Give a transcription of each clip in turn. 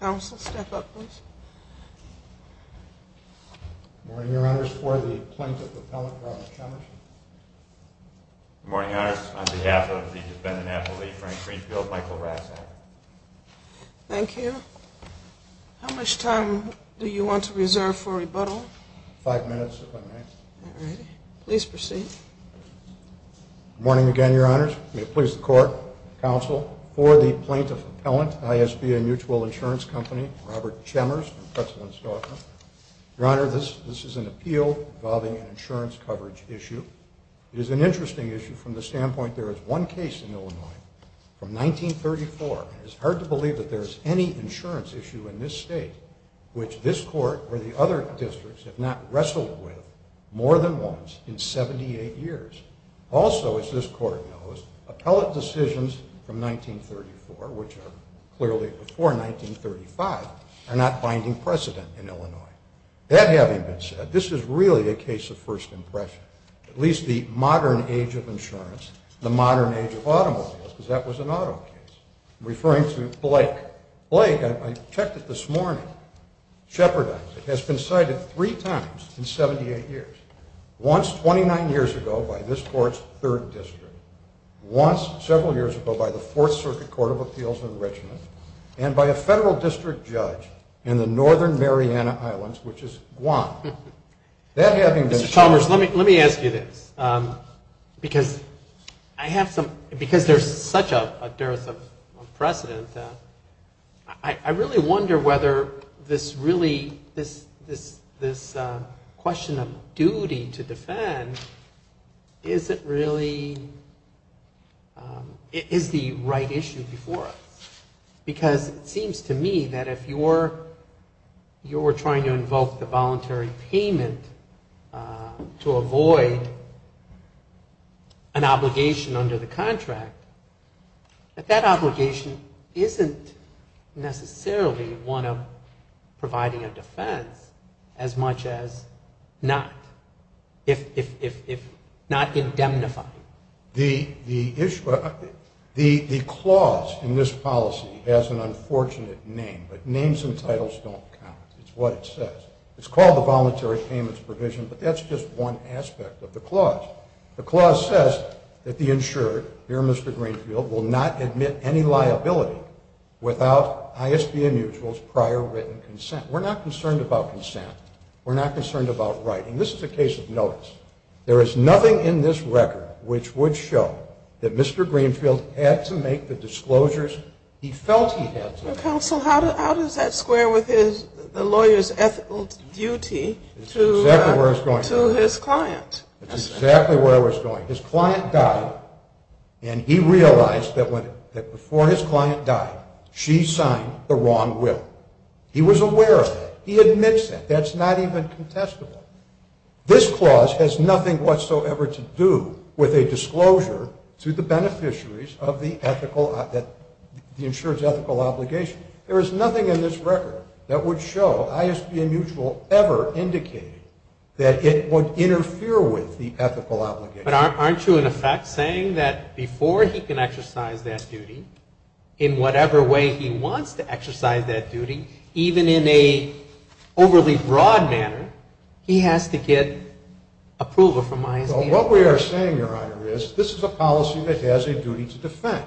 Council, step up, please. Good morning, Your Honors. For the plaintiff appellant, Ron McConnish. Good morning, Your Honors. On behalf of the defendant appellee, Frank Greenfield, Michael Rassel. Thank you. Your Honor, how much time do you want to reserve for rebuttal? Five minutes, if I may. All right. Please proceed. Good morning again, Your Honors. May it please the Court, Council, for the plaintiff appellant, I.S.B.A. Mutual Insurance Company, Robert Chambers, President's daughter. Your Honor, this is an appeal involving an insurance coverage issue. It is an interesting issue from the standpoint there is one case in Illinois from 1934. It is hard to believe that there is any insurance issue in this state which this Court or the other districts have not wrestled with more than once in 78 years. Also, as this Court knows, appellate decisions from 1934, which are clearly before 1935, are not finding precedent in Illinois. That having been said, this is really a case of first impression. At least the modern age of insurance, the modern age of automobiles, because that was an auto case. Mr. Chambers, let me ask you this. Because I have some – because there is such a dearth of information in this case, I would like to ask you a question. I really wonder whether this really – this question of duty to defend, is it really – is the right issue before us? Because it seems to me that if you're trying to invoke the voluntary payment to avoid an obligation under the contract, that that obligation is not a voluntary payment. That obligation isn't necessarily one of providing a defense as much as not indemnifying. The clause in this policy has an unfortunate name, but names and titles don't count. It's what it says. It's called the Voluntary Payments Provision, but that's just one aspect of the clause. The clause says that the insured, dear Mr. Greenfield, will not admit any liability without ISBA mutual's prior written consent. We're not concerned about consent. We're not concerned about writing. This is a case of notice. There is nothing in this record which would show that Mr. Greenfield had to make the disclosures he felt he had to. Counsel, how does that square with the lawyer's ethical duty to his client? That's exactly where I was going. His client died, and he realized that before his client died, she signed the wrong will. He was aware of it. He admits it. That's not even contestable. This clause has nothing whatsoever to do with a disclosure to the beneficiaries of the insured's ethical obligation. There is nothing in this record that would show ISBA mutual ever indicated that it would interfere with the ethical obligation. But aren't you, in effect, saying that before he can exercise that duty, in whatever way he wants to exercise that duty, even in an overly broad manner, he has to get approval from ISBA? Well, what we are saying, Your Honor, is this is a policy that has a duty to defend.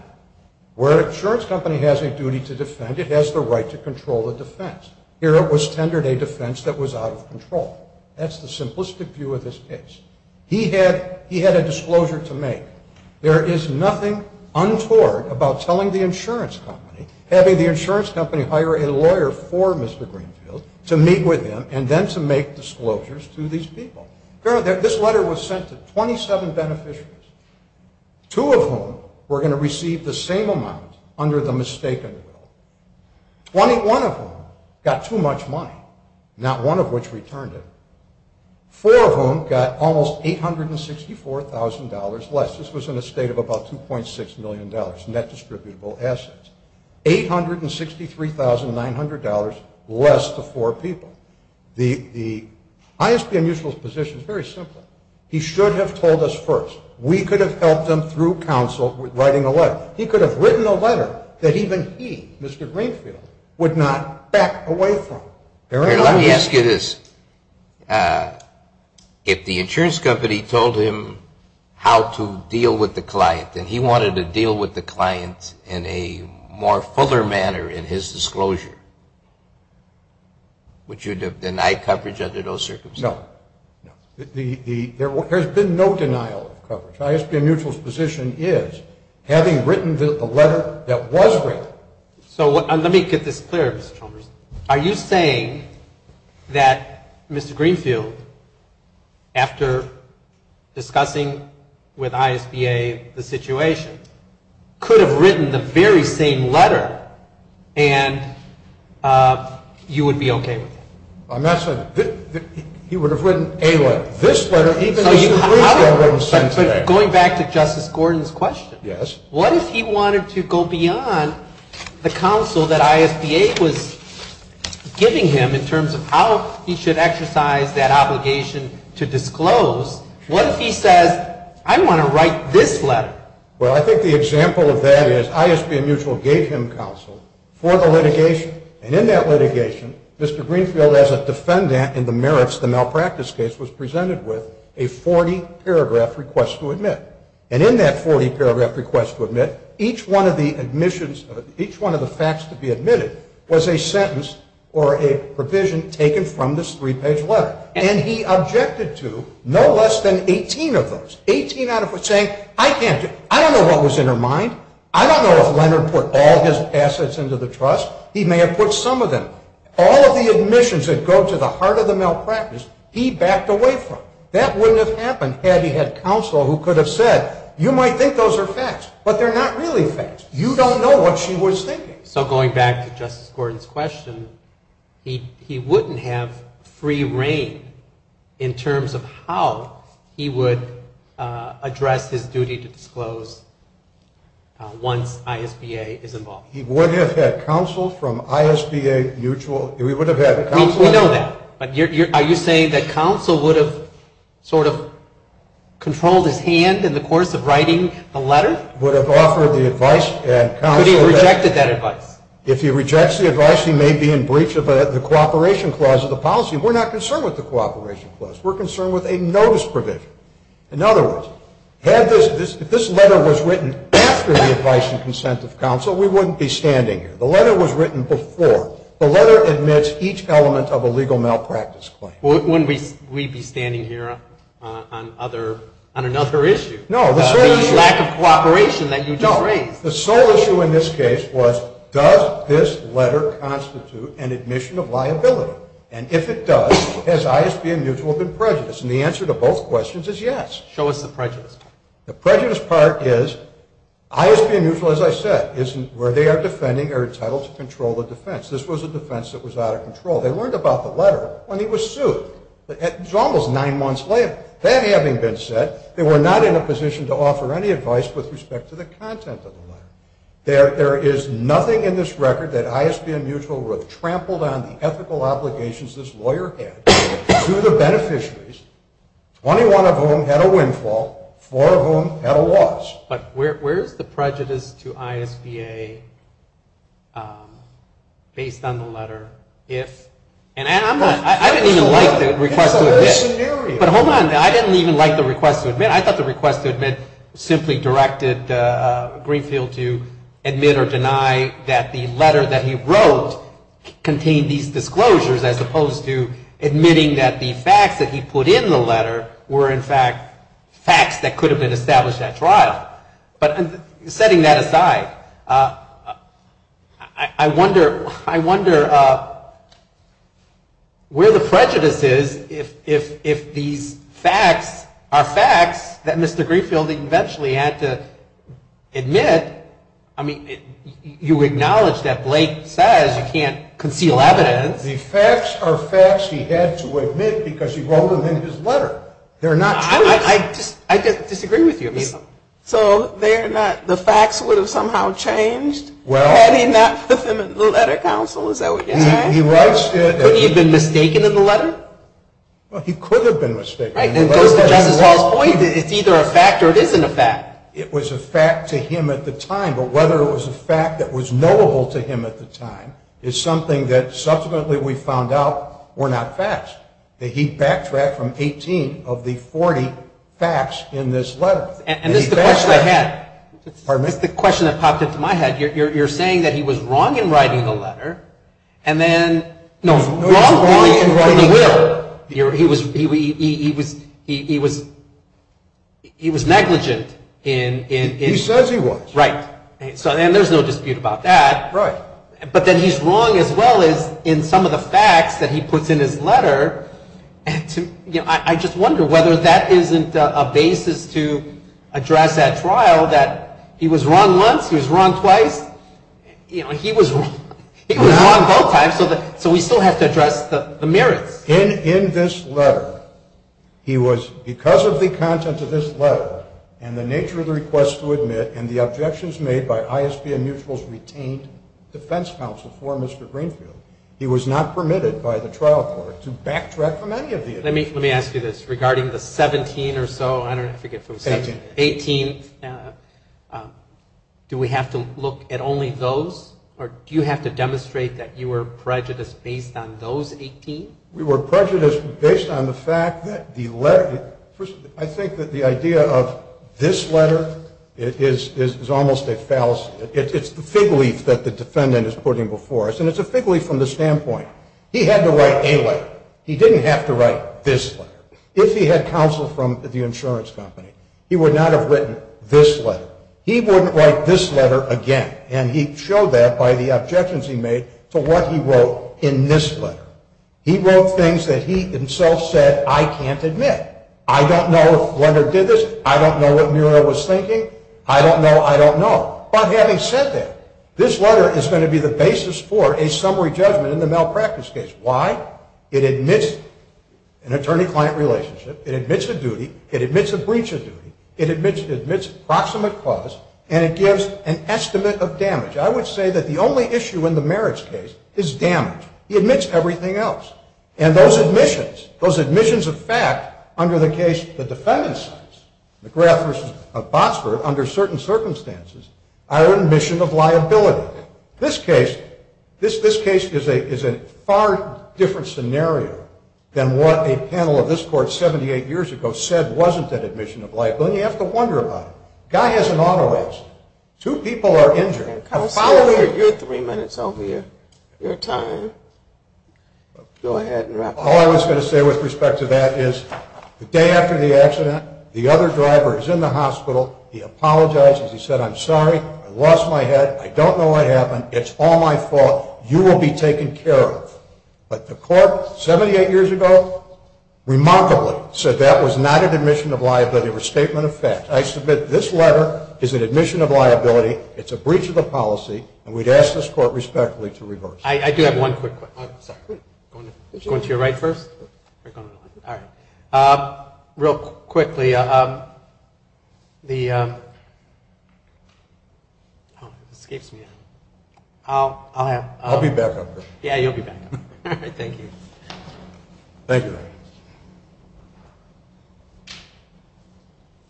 Where an insurance company has a duty to defend, it has the right to control the defense. Here it was tendered a defense that was out of control. That's the simplistic view of this case. He had a disclosure to make. There is nothing untoward about telling the insurance company, having the insurance company hire a lawyer for Mr. Greenfield, to meet with him and then to make disclosures to these people. Your Honor, this letter was sent to 27 beneficiaries, two of whom were going to receive the same amount under the mistaken rule. Twenty-one of them got too much money, not one of which returned it. Four of whom got almost $864,000 less. This was in a state of about $2.6 million net distributable assets. $863,900 less to four people. The ISBA mutual's position is very simple. He should have told us first. We could have helped him through counsel with writing a letter. He could have written a letter that even he, Mr. Greenfield, would not back away from. Let me ask you this. If the insurance company told him how to deal with the client and he wanted to deal with the client in a more fuller manner in his disclosure, would you have denied coverage under those circumstances? No. There has been no denial of coverage. The ISBA mutual's position is, having written the letter that was written. Let me get this clear, Mr. Chalmers. Are you saying that Mr. Greenfield, after discussing with ISBA the situation, could have written the very same letter and you would be okay with it? I'm not saying that. He would have written a letter. This letter, even Mr. Greenfield wouldn't have sent it to them. But going back to Justice Gordon's question, what if he wanted to go beyond the counsel that ISBA was giving him in terms of how he should exercise that obligation to disclose? What if he says, I want to write this letter? Well, I think the example of that is, ISBA mutual gave him counsel for the litigation. And in that litigation, Mr. Greenfield, as a defendant in the merits of the malpractice case, was presented with a 40-paragraph request to admit. And in that 40-paragraph request to admit, each one of the admissions, each one of the facts to be admitted was a sentence or a provision taken from this three-page letter. And he objected to no less than 18 of those. Eighteen out of, saying, I can't do it. I don't know what was in her mind. I don't know if Leonard put all his assets into the trust. He may have put some of them. All of the admissions that go to the heart of the malpractice, he backed away from. That wouldn't have happened had he had counsel who could have said, you might think those are facts, but they're not really facts. You don't know what she was thinking. So going back to Justice Gordon's question, he wouldn't have free reign in terms of how he would address his duty to disclose once ISBA is involved. He would have had counsel from ISBA mutual? He would have had counsel? We know that. But are you saying that counsel would have sort of controlled his hand in the course of writing the letter? But he rejected that advice. If he rejects the advice, he may be in breach of the cooperation clause of the policy. We're not concerned with the cooperation clause. We're concerned with a notice provision. In other words, if this letter was written after the advice and consent of counsel, we wouldn't be standing here. The letter was written before. The letter admits each element of a legal malpractice claim. Wouldn't we be standing here on another issue? No. The sole issue in this case was, does this letter constitute an admission of liability? And if it does, has ISBA mutual been prejudiced? And the answer to both questions is yes. Show us the prejudice part. The prejudice part is, ISBA mutual, as I said, is where they are defending or entitled to control the defense. This was a defense that was out of control. They learned about the letter when he was sued. It was almost nine months later. That having been said, they were not in a position to offer any advice with respect to the content of the letter. There is nothing in this record that ISBA mutual would have trampled on the ethical obligations this lawyer had to the beneficiaries, 21 of whom had a windfall, four of whom had a loss. But where is the prejudice to ISBA based on the letter if, and I'm not, I didn't even like the request to admit. But hold on, I didn't even like the request to admit. I thought the request to admit simply directed Greenfield to admit or deny that the letter that he wrote contained these disclosures as opposed to admitting that the facts that he put in the letter were in fact facts that could have been established at trial. But setting that aside, I wonder where the prejudice is if these facts are facts that Mr. Greenfield eventually had to admit. I mean, you acknowledge that Blake says you can't conceal evidence. The facts are facts he had to admit because he wrote them in his letter. They're not true. I disagree with you. So they're not, the facts would have somehow changed had he not put them in the letter counsel, is that what you're saying? He writes it. Would he have been mistaken in the letter? Well, he could have been mistaken. Right, and it goes to Justice Hall's point that it's either a fact or it isn't a fact. It was a fact to him at the time, but whether it was a fact that was knowable to him at the time is something that subsequently we found out were not facts, that he backtracked from 18 of the 40 facts in this letter. And this is the question I had. Pardon me? This is the question that popped into my head. You're saying that he was wrong in writing the letter and then, no, wrong in writing the will. He was negligent in. He says he was. Right, and there's no dispute about that. Right. But then he's wrong as well as in some of the facts that he puts in his letter. You know, I just wonder whether that isn't a basis to address at trial that he was wrong once, he was wrong twice. You know, he was wrong both times, so we still have to address the merits. In this letter, he was, because of the content of this letter and the nature of the request to admit and the objections made by ISBN Mutual's retained defense counsel for Mr. Greenfield, he was not permitted by the trial court to backtrack from any of the evidence. Let me ask you this. Regarding the 17 or so, I forget, 18, do we have to look at only those? Or do you have to demonstrate that you were prejudiced based on those 18? We were prejudiced based on the fact that the letter, I think that the idea of this letter is almost a fallacy. It's the fig leaf that the defendant is putting before us, and it's a fig leaf from the standpoint. He had to write a letter. He didn't have to write this letter. If he had counsel from the insurance company, he would not have written this letter. He wouldn't write this letter again, and he showed that by the objections he made to what he wrote in this letter. He wrote things that he himself said, I can't admit. I don't know if Lender did this. I don't know what Muriel was thinking. I don't know. But having said that, this letter is going to be the basis for a summary judgment in the malpractice case. Why? It admits an attorney-client relationship. It admits a duty. It admits a breach of duty. It admits a proximate clause, and it gives an estimate of damage. I would say that the only issue in the merits case is damage. He admits everything else, and those admissions, those admissions of fact under the case the defendant signs, McGrath v. Botsford, under certain circumstances, are admission of liability. This case is a far different scenario than what a panel of this court 78 years ago said wasn't an admission of liability, and you have to wonder about it. Guy has an auto accident. Two people are injured. Follow your three minutes over here, your time. Go ahead and wrap it up. All I was going to say with respect to that is the day after the accident, the other driver is in the hospital. He apologizes. He said, I'm sorry. I lost my head. I don't know what happened. It's all my fault. You will be taken care of. But the court 78 years ago remarkably said that was not an admission of liability or statement of fact. I submit this letter is an admission of liability. It's a breach of the policy, and we'd ask this court respectfully to reverse. I do have one quick question. Sorry. Going to your right first? All right. Real quickly, the ‑‑ escapes me. I'll have ‑‑ I'll be back up here. Yeah, you'll be back up here. All right. Thank you. Thank you.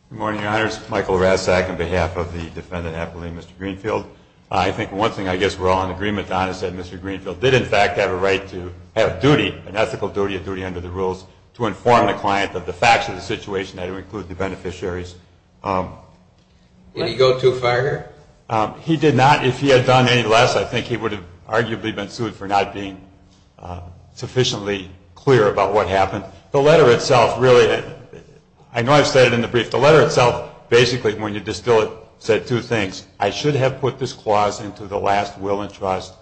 Good morning, Your Honors. Michael Razzak on behalf of the defendant appellee, Mr. Greenfield. I think one thing I guess we're all in agreement on is that Mr. Greenfield did in fact have a right to have duty, an ethical duty of duty under the rules to inform the client of the facts of the situation, that would include the beneficiaries. Did he go too far here? He did not. If he had done any less, I think he would have arguably been sued for not being sufficiently clear about what happened. The letter itself really ‑‑ I know I've said it in the brief. The letter itself basically, when you distill it, said two things. I should have put this clause into the last will and trust,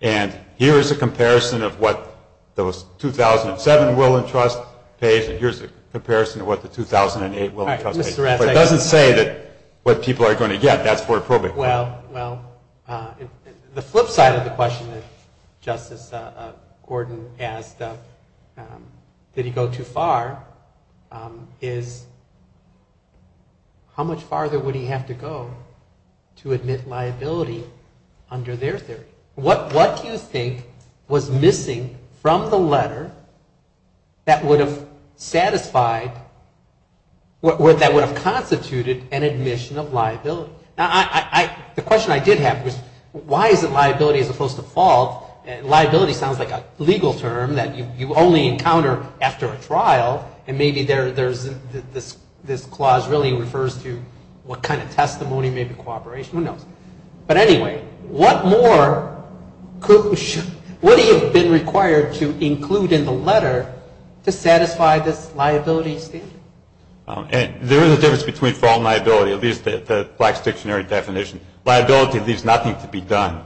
and here is a comparison of what the 2007 will and trust pays, and here is a comparison of what the 2008 will and trust pays. All right, Mr. Razzak. It doesn't say what people are going to get. That's for a probate. Well, the flip side of the question that Justice Gordon asked, did he go too far, is how much farther would he have to go to admit liability under their theory? What do you think was missing from the letter that would have satisfied, that would have constituted an admission of liability? The question I did have was, why is it liability as opposed to fault? Liability sounds like a legal term that you only encounter after a trial, and maybe this clause really refers to what kind of testimony, maybe cooperation, who knows. But anyway, what more would he have been required to include in the letter to satisfy this liability standard? There is a difference between fault and liability, at least the Black's Dictionary definition. Liability leaves nothing to be done.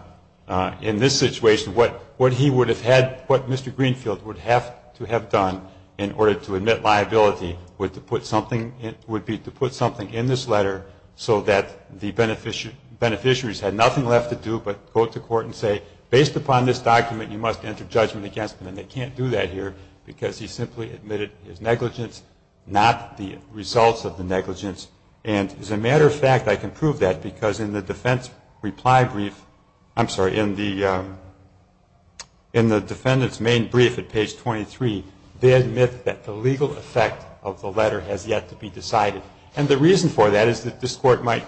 In this situation, what he would have had, what Mr. Greenfield would have to have done, in order to admit liability, would be to put something in this letter so that the beneficiaries had nothing left to do but go to court and say, based upon this document, you must enter judgment against them, and they can't do that here because he simply admitted his negligence, not the results of the negligence. And as a matter of fact, I can prove that because in the defense reply brief, I'm sorry, in the defendant's main brief at page 23, they admit that the legal effect of the letter has yet to be decided. And the reason for that is that this court might,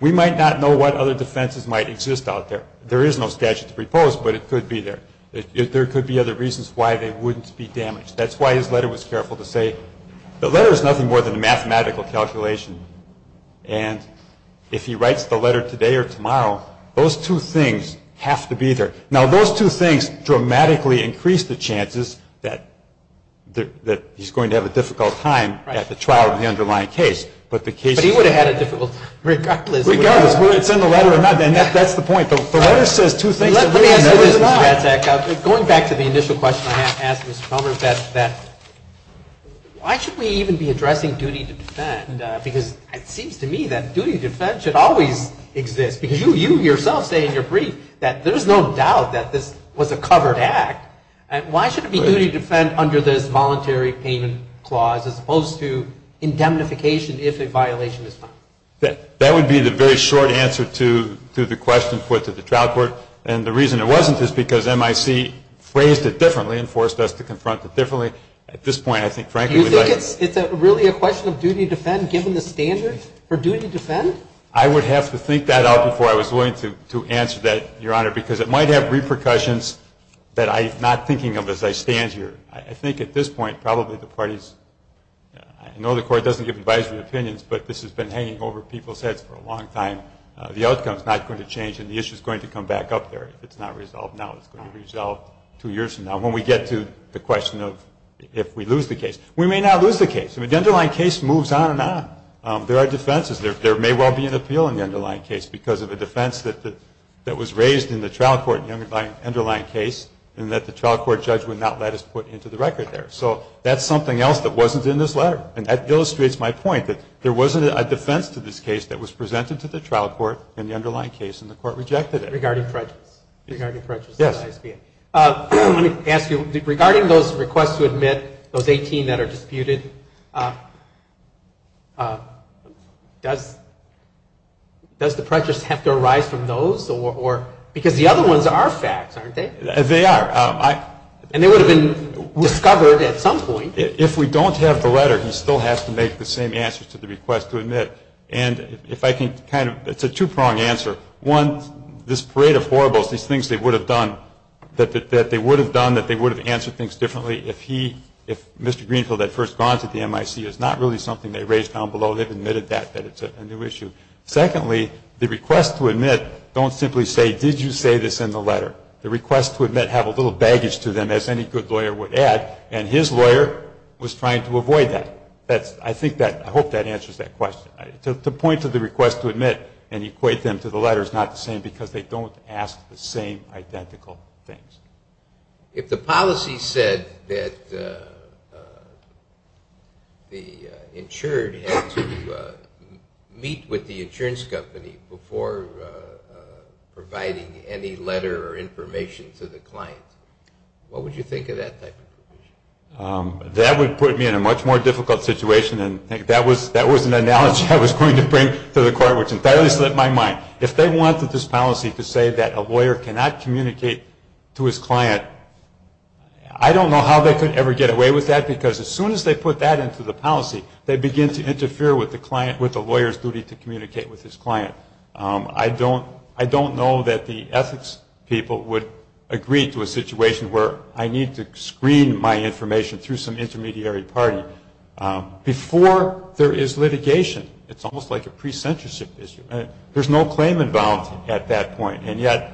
we might not know what other defenses might exist out there. There is no statute to propose, but it could be there. There could be other reasons why they wouldn't be damaged. That's why his letter was careful to say, the letter is nothing more than a mathematical calculation. And if he writes the letter today or tomorrow, those two things have to be there. Now, those two things dramatically increase the chances that he's going to have a difficult time at the trial of the underlying case. But the case is... But he would have had a difficult time, regardless. Regardless, whether it's in the letter or not, and that's the point. The letter says two things. Let me ask you this, Mr. Ratzak. Going back to the initial question I asked Mr. Palmer, that why should we even be addressing duty to defend? Because it seems to me that duty to defend should always exist. Because you yourself say in your brief that there's no doubt that this was a covered act. Why should it be duty to defend under this voluntary payment clause as opposed to indemnification if a violation is found? That would be the very short answer to the question put to the trial court. And the reason it wasn't is because MIC phrased it differently and forced us to confront it differently. At this point, I think, frankly... Do you think it's really a question of duty to defend given the standard for duty to defend? I would have to think that out before I was willing to answer that, Your Honor, because it might have repercussions that I'm not thinking of as I stand here. I think at this point, probably the parties... I know the Court doesn't give advisory opinions, but this has been hanging over people's heads for a long time. The outcome is not going to change and the issue is going to come back up there. It's not resolved now. It's going to be resolved two years from now when we get to the question of if we lose the case. We may not lose the case. The underlying case moves on and on. There are defenses. There may well be an appeal in the underlying case because of a defense that was raised in the trial court in the underlying case and that the trial court judge would not let us put into the record there. So that's something else that wasn't in this letter. And that illustrates my point that there wasn't a defense to this case that was presented to the trial court in the underlying case and the Court rejected it. Regarding prejudice. Regarding prejudice. Yes. Let me ask you, regarding those requests to admit, those 18 that are disputed, does the prejudice have to arise from those? Because the other ones are facts, aren't they? They are. And they would have been discovered at some point. If we don't have the letter, he still has to make the same answers to the request to admit. And if I can kind of – it's a two-pronged answer. One, this parade of horribles, these things they would have done, that they would have done, that they would have answered things differently if he, if Mr. Greenfield had first gone to the MIC. It's not really something they raised down below. They've admitted that, that it's a new issue. Secondly, the request to admit don't simply say, did you say this in the letter? The request to admit have a little baggage to them, as any good lawyer would add, and his lawyer was trying to avoid that. I think that – I hope that answers that question. The point of the request to admit and equate them to the letter is not the same because they don't ask the same identical things. If the policy said that the insured had to meet with the insurance company before providing any letter or information to the client, what would you think of that type of provision? That would put me in a much more difficult situation. That was an analogy I was going to bring to the court, which entirely slipped my mind. If they wanted this policy to say that a lawyer cannot communicate to his client, I don't know how they could ever get away with that because as soon as they put that into the policy, they begin to interfere with the lawyer's duty to communicate with his client. I don't know that the ethics people would agree to a situation where I need to screen my information through some intermediary party before there is litigation. It's almost like a pre-censorship issue. There's no claimant bound at that point, and yet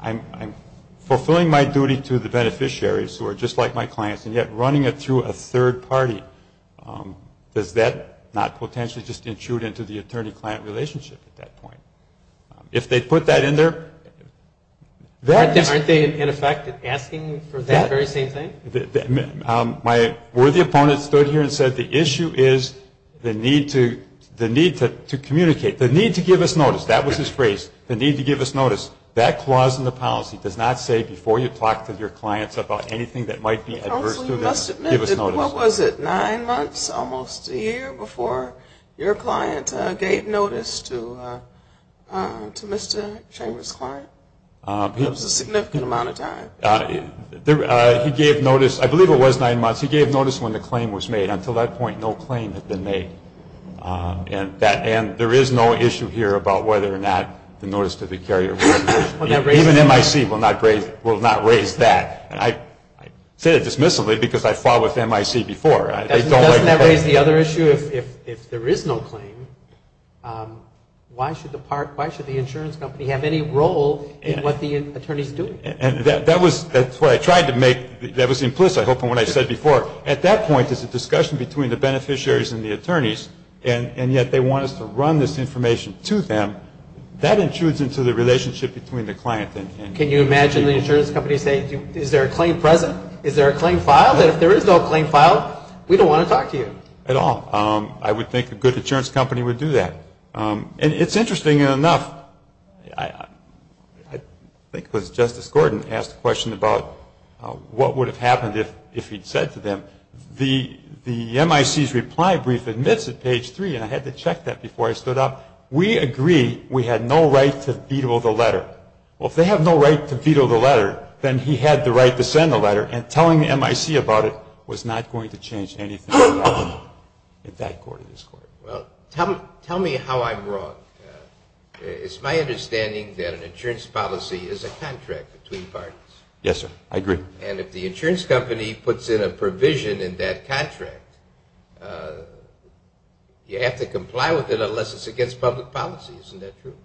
I'm fulfilling my duty to the beneficiaries, who are just like my clients, and yet running it through a third party, does that not potentially just intrude into the attorney-client relationship at that point? If they put that in there, that is... Aren't they, in effect, asking for that very same thing? My worthy opponent stood here and said the issue is the need to communicate, the need to give us notice. That was his phrase, the need to give us notice. That clause in the policy does not say before you talk to your clients about anything that might be adverse to them, give us notice. You must admit, what was it, nine months, almost a year, before your client gave notice to Mr. Chambers' client? It was a significant amount of time. He gave notice, I believe it was nine months, he gave notice when the claim was made. Until that point, no claim had been made. And there is no issue here about whether or not the notice to the carrier was made. Even MIC will not raise that. I said it dismissively because I fought with MIC before. Doesn't that raise the other issue? If there is no claim, why should the insurance company have any role in what the attorney is doing? That was what I tried to make, that was implicit, I hope, in what I said before. At that point, there's a discussion between the beneficiaries and the attorneys, and yet they want us to run this information to them. That intrudes into the relationship between the client and the attorney. Can you imagine the insurance company saying, is there a claim present? Is there a claim filed? And if there is no claim filed, we don't want to talk to you. At all. I would think a good insurance company would do that. And it's interesting enough, I think it was Justice Gordon who asked the question about what would have happened if he'd said to them, the MIC's reply brief admits at page 3, and I had to check that before I stood up, we agree we had no right to veto the letter. Well, if they have no right to veto the letter, then he had the right to send the letter, and telling the MIC about it was not going to change anything in that court or this court. Well, tell me how I'm wrong. It's my understanding that an insurance policy is a contract between parties. Yes, sir. I agree. And if the insurance company puts in a provision in that contract, you have to comply with it unless it's against public policy. Isn't that true?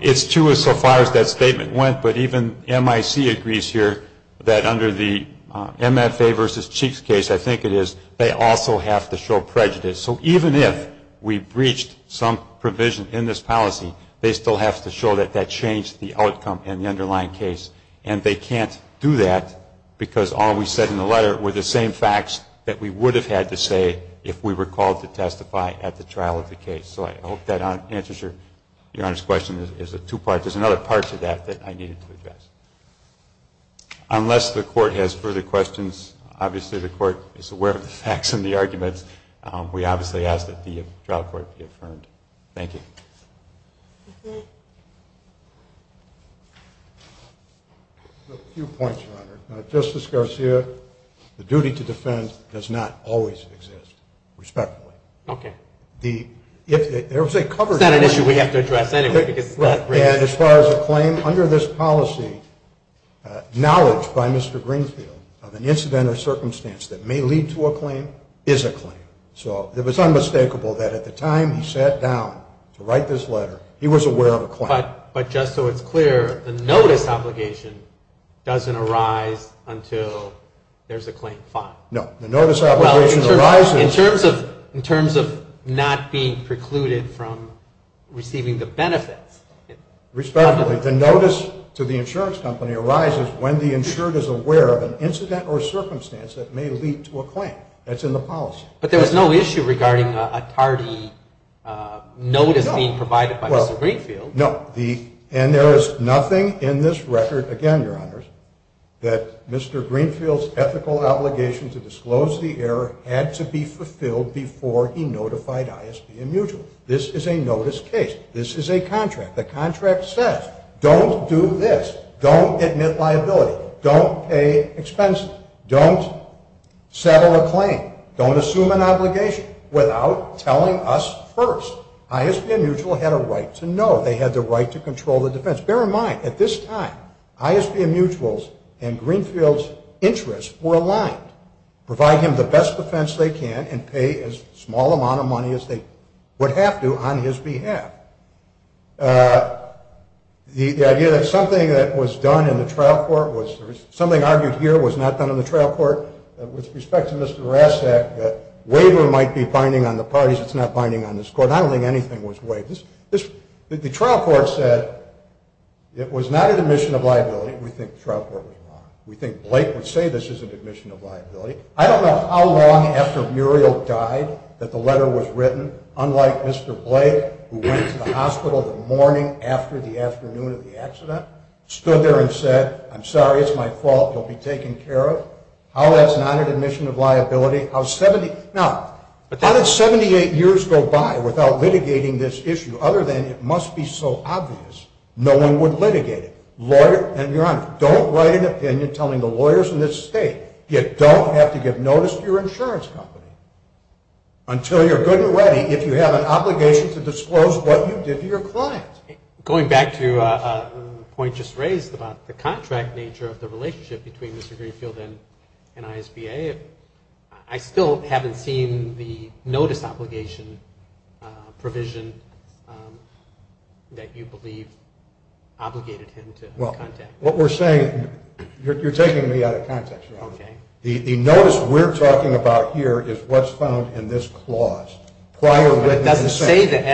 It's true so far as that statement went. But even MIC agrees here that under the MFA versus Cheeks case, I think it is, they also have to show prejudice. So even if we breached some provision in this policy, they still have to show that that changed the outcome in the underlying case. And they can't do that because all we said in the letter were the same facts that we would have had to say if we were called to testify at the trial of the case. So I hope that answers Your Honor's question. There's another part to that that I needed to address. Unless the court has further questions, obviously the court is aware of the facts and the arguments. We obviously ask that the trial court be affirmed. Thank you. A few points, Your Honor. Now, Justice Garcia, the duty to defend does not always exist, respectfully. Okay. It's not an issue we have to address anyway because it's not raised. Right. And as far as a claim, under this policy, knowledge by Mr. Greenfield of an incident or circumstance that may lead to a claim is a claim. So it was unmistakable that at the time he sat down to write this letter, he was aware of a claim. But just so it's clear, the notice obligation doesn't arise until there's a claim filed. No. The notice obligation arises... Well, in terms of not being precluded from receiving the benefits... Respectfully, the notice to the insurance company arises when the insured is aware of an incident or circumstance that may lead to a claim. That's in the policy. But there was no issue regarding a tardy notice being provided by Mr. Greenfield. No. And there is nothing in this record, again, Your Honors, that Mr. Greenfield's ethical obligation to disclose the error had to be fulfilled before he notified ISB and Mutual. This is a notice case. This is a contract. The contract says, don't do this. Don't admit liability. Don't pay expenses. Don't settle a claim. Don't assume an obligation without telling us first. ISB and Mutual had a right to know. They had the right to control the defense. Bear in mind, at this time, ISB and Mutual's and Greenfield's interests were aligned. Provide him the best defense they can and pay as small amount of money as they would have to on his behalf. The idea that something that was done in the trial court was, something argued here was not done in the trial court, with respect to Mr. Rasek, that waiver might be binding on the parties. It's not binding on this court. I don't think anything was waived. The trial court said it was not an admission of liability. We think the trial court was wrong. We think Blake would say this is an admission of liability. I don't know how long after Muriel died that the letter was written, unlike Mr. Blake, who went to the hospital the morning after the afternoon of the accident, stood there and said, I'm sorry, it's my fault, you'll be taken care of. How that's not an admission of liability. Now, how did 78 years go by without litigating this issue, other than it must be so obvious no one would litigate it? Don't write an opinion telling the lawyers in this state, you don't have to give notice to your insurance company. Until you're good and ready, if you have an obligation to disclose what you did to your client. Going back to a point just raised about the contract nature of the relationship between Mr. Greenfield and ISBA, I still haven't seen the notice obligation provision that you believe obligated him to contact. What we're saying, you're taking me out of context. Okay. The notice we're talking about here is what's found in this clause. Prior written consent. But it doesn't say that,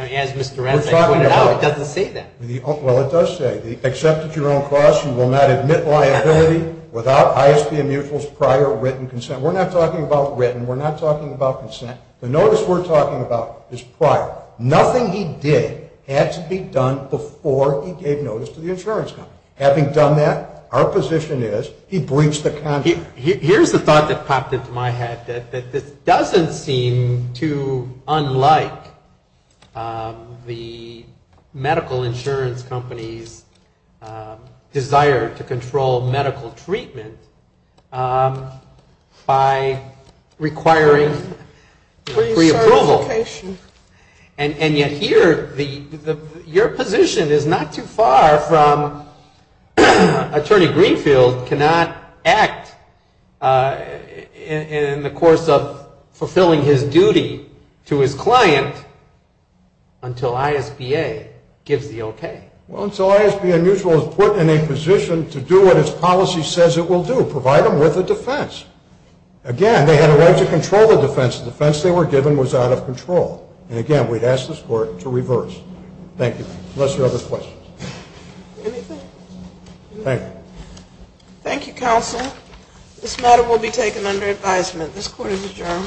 as Mr. Ranzi pointed out, it doesn't say that. Well, it does say, except at your own cost, you will not admit liability without ISBA mutual's prior written consent. We're not talking about written, we're not talking about consent. The notice we're talking about is prior. Nothing he did had to be done before he gave notice to the insurance company. Having done that, our position is he breached the contract. Here's the thought that popped into my head, that this doesn't seem too unlike the medical insurance company's desire to control medical treatment by requiring pre-approval. Pre-certification. And yet here, your position is not too far from attorney Greenfield cannot act in the course of fulfilling his duty to his client until ISBA gives the okay. Well, until ISBA mutual is put in a position to do what its policy says it will do, provide them with a defense. Again, they had a right to control the defense. The defense they were given was out of control. And again, we'd ask this court to reverse. Thank you. Unless there are other questions. Anything? Thank you. Thank you, counsel. This matter will be taken under advisement. This court is adjourned.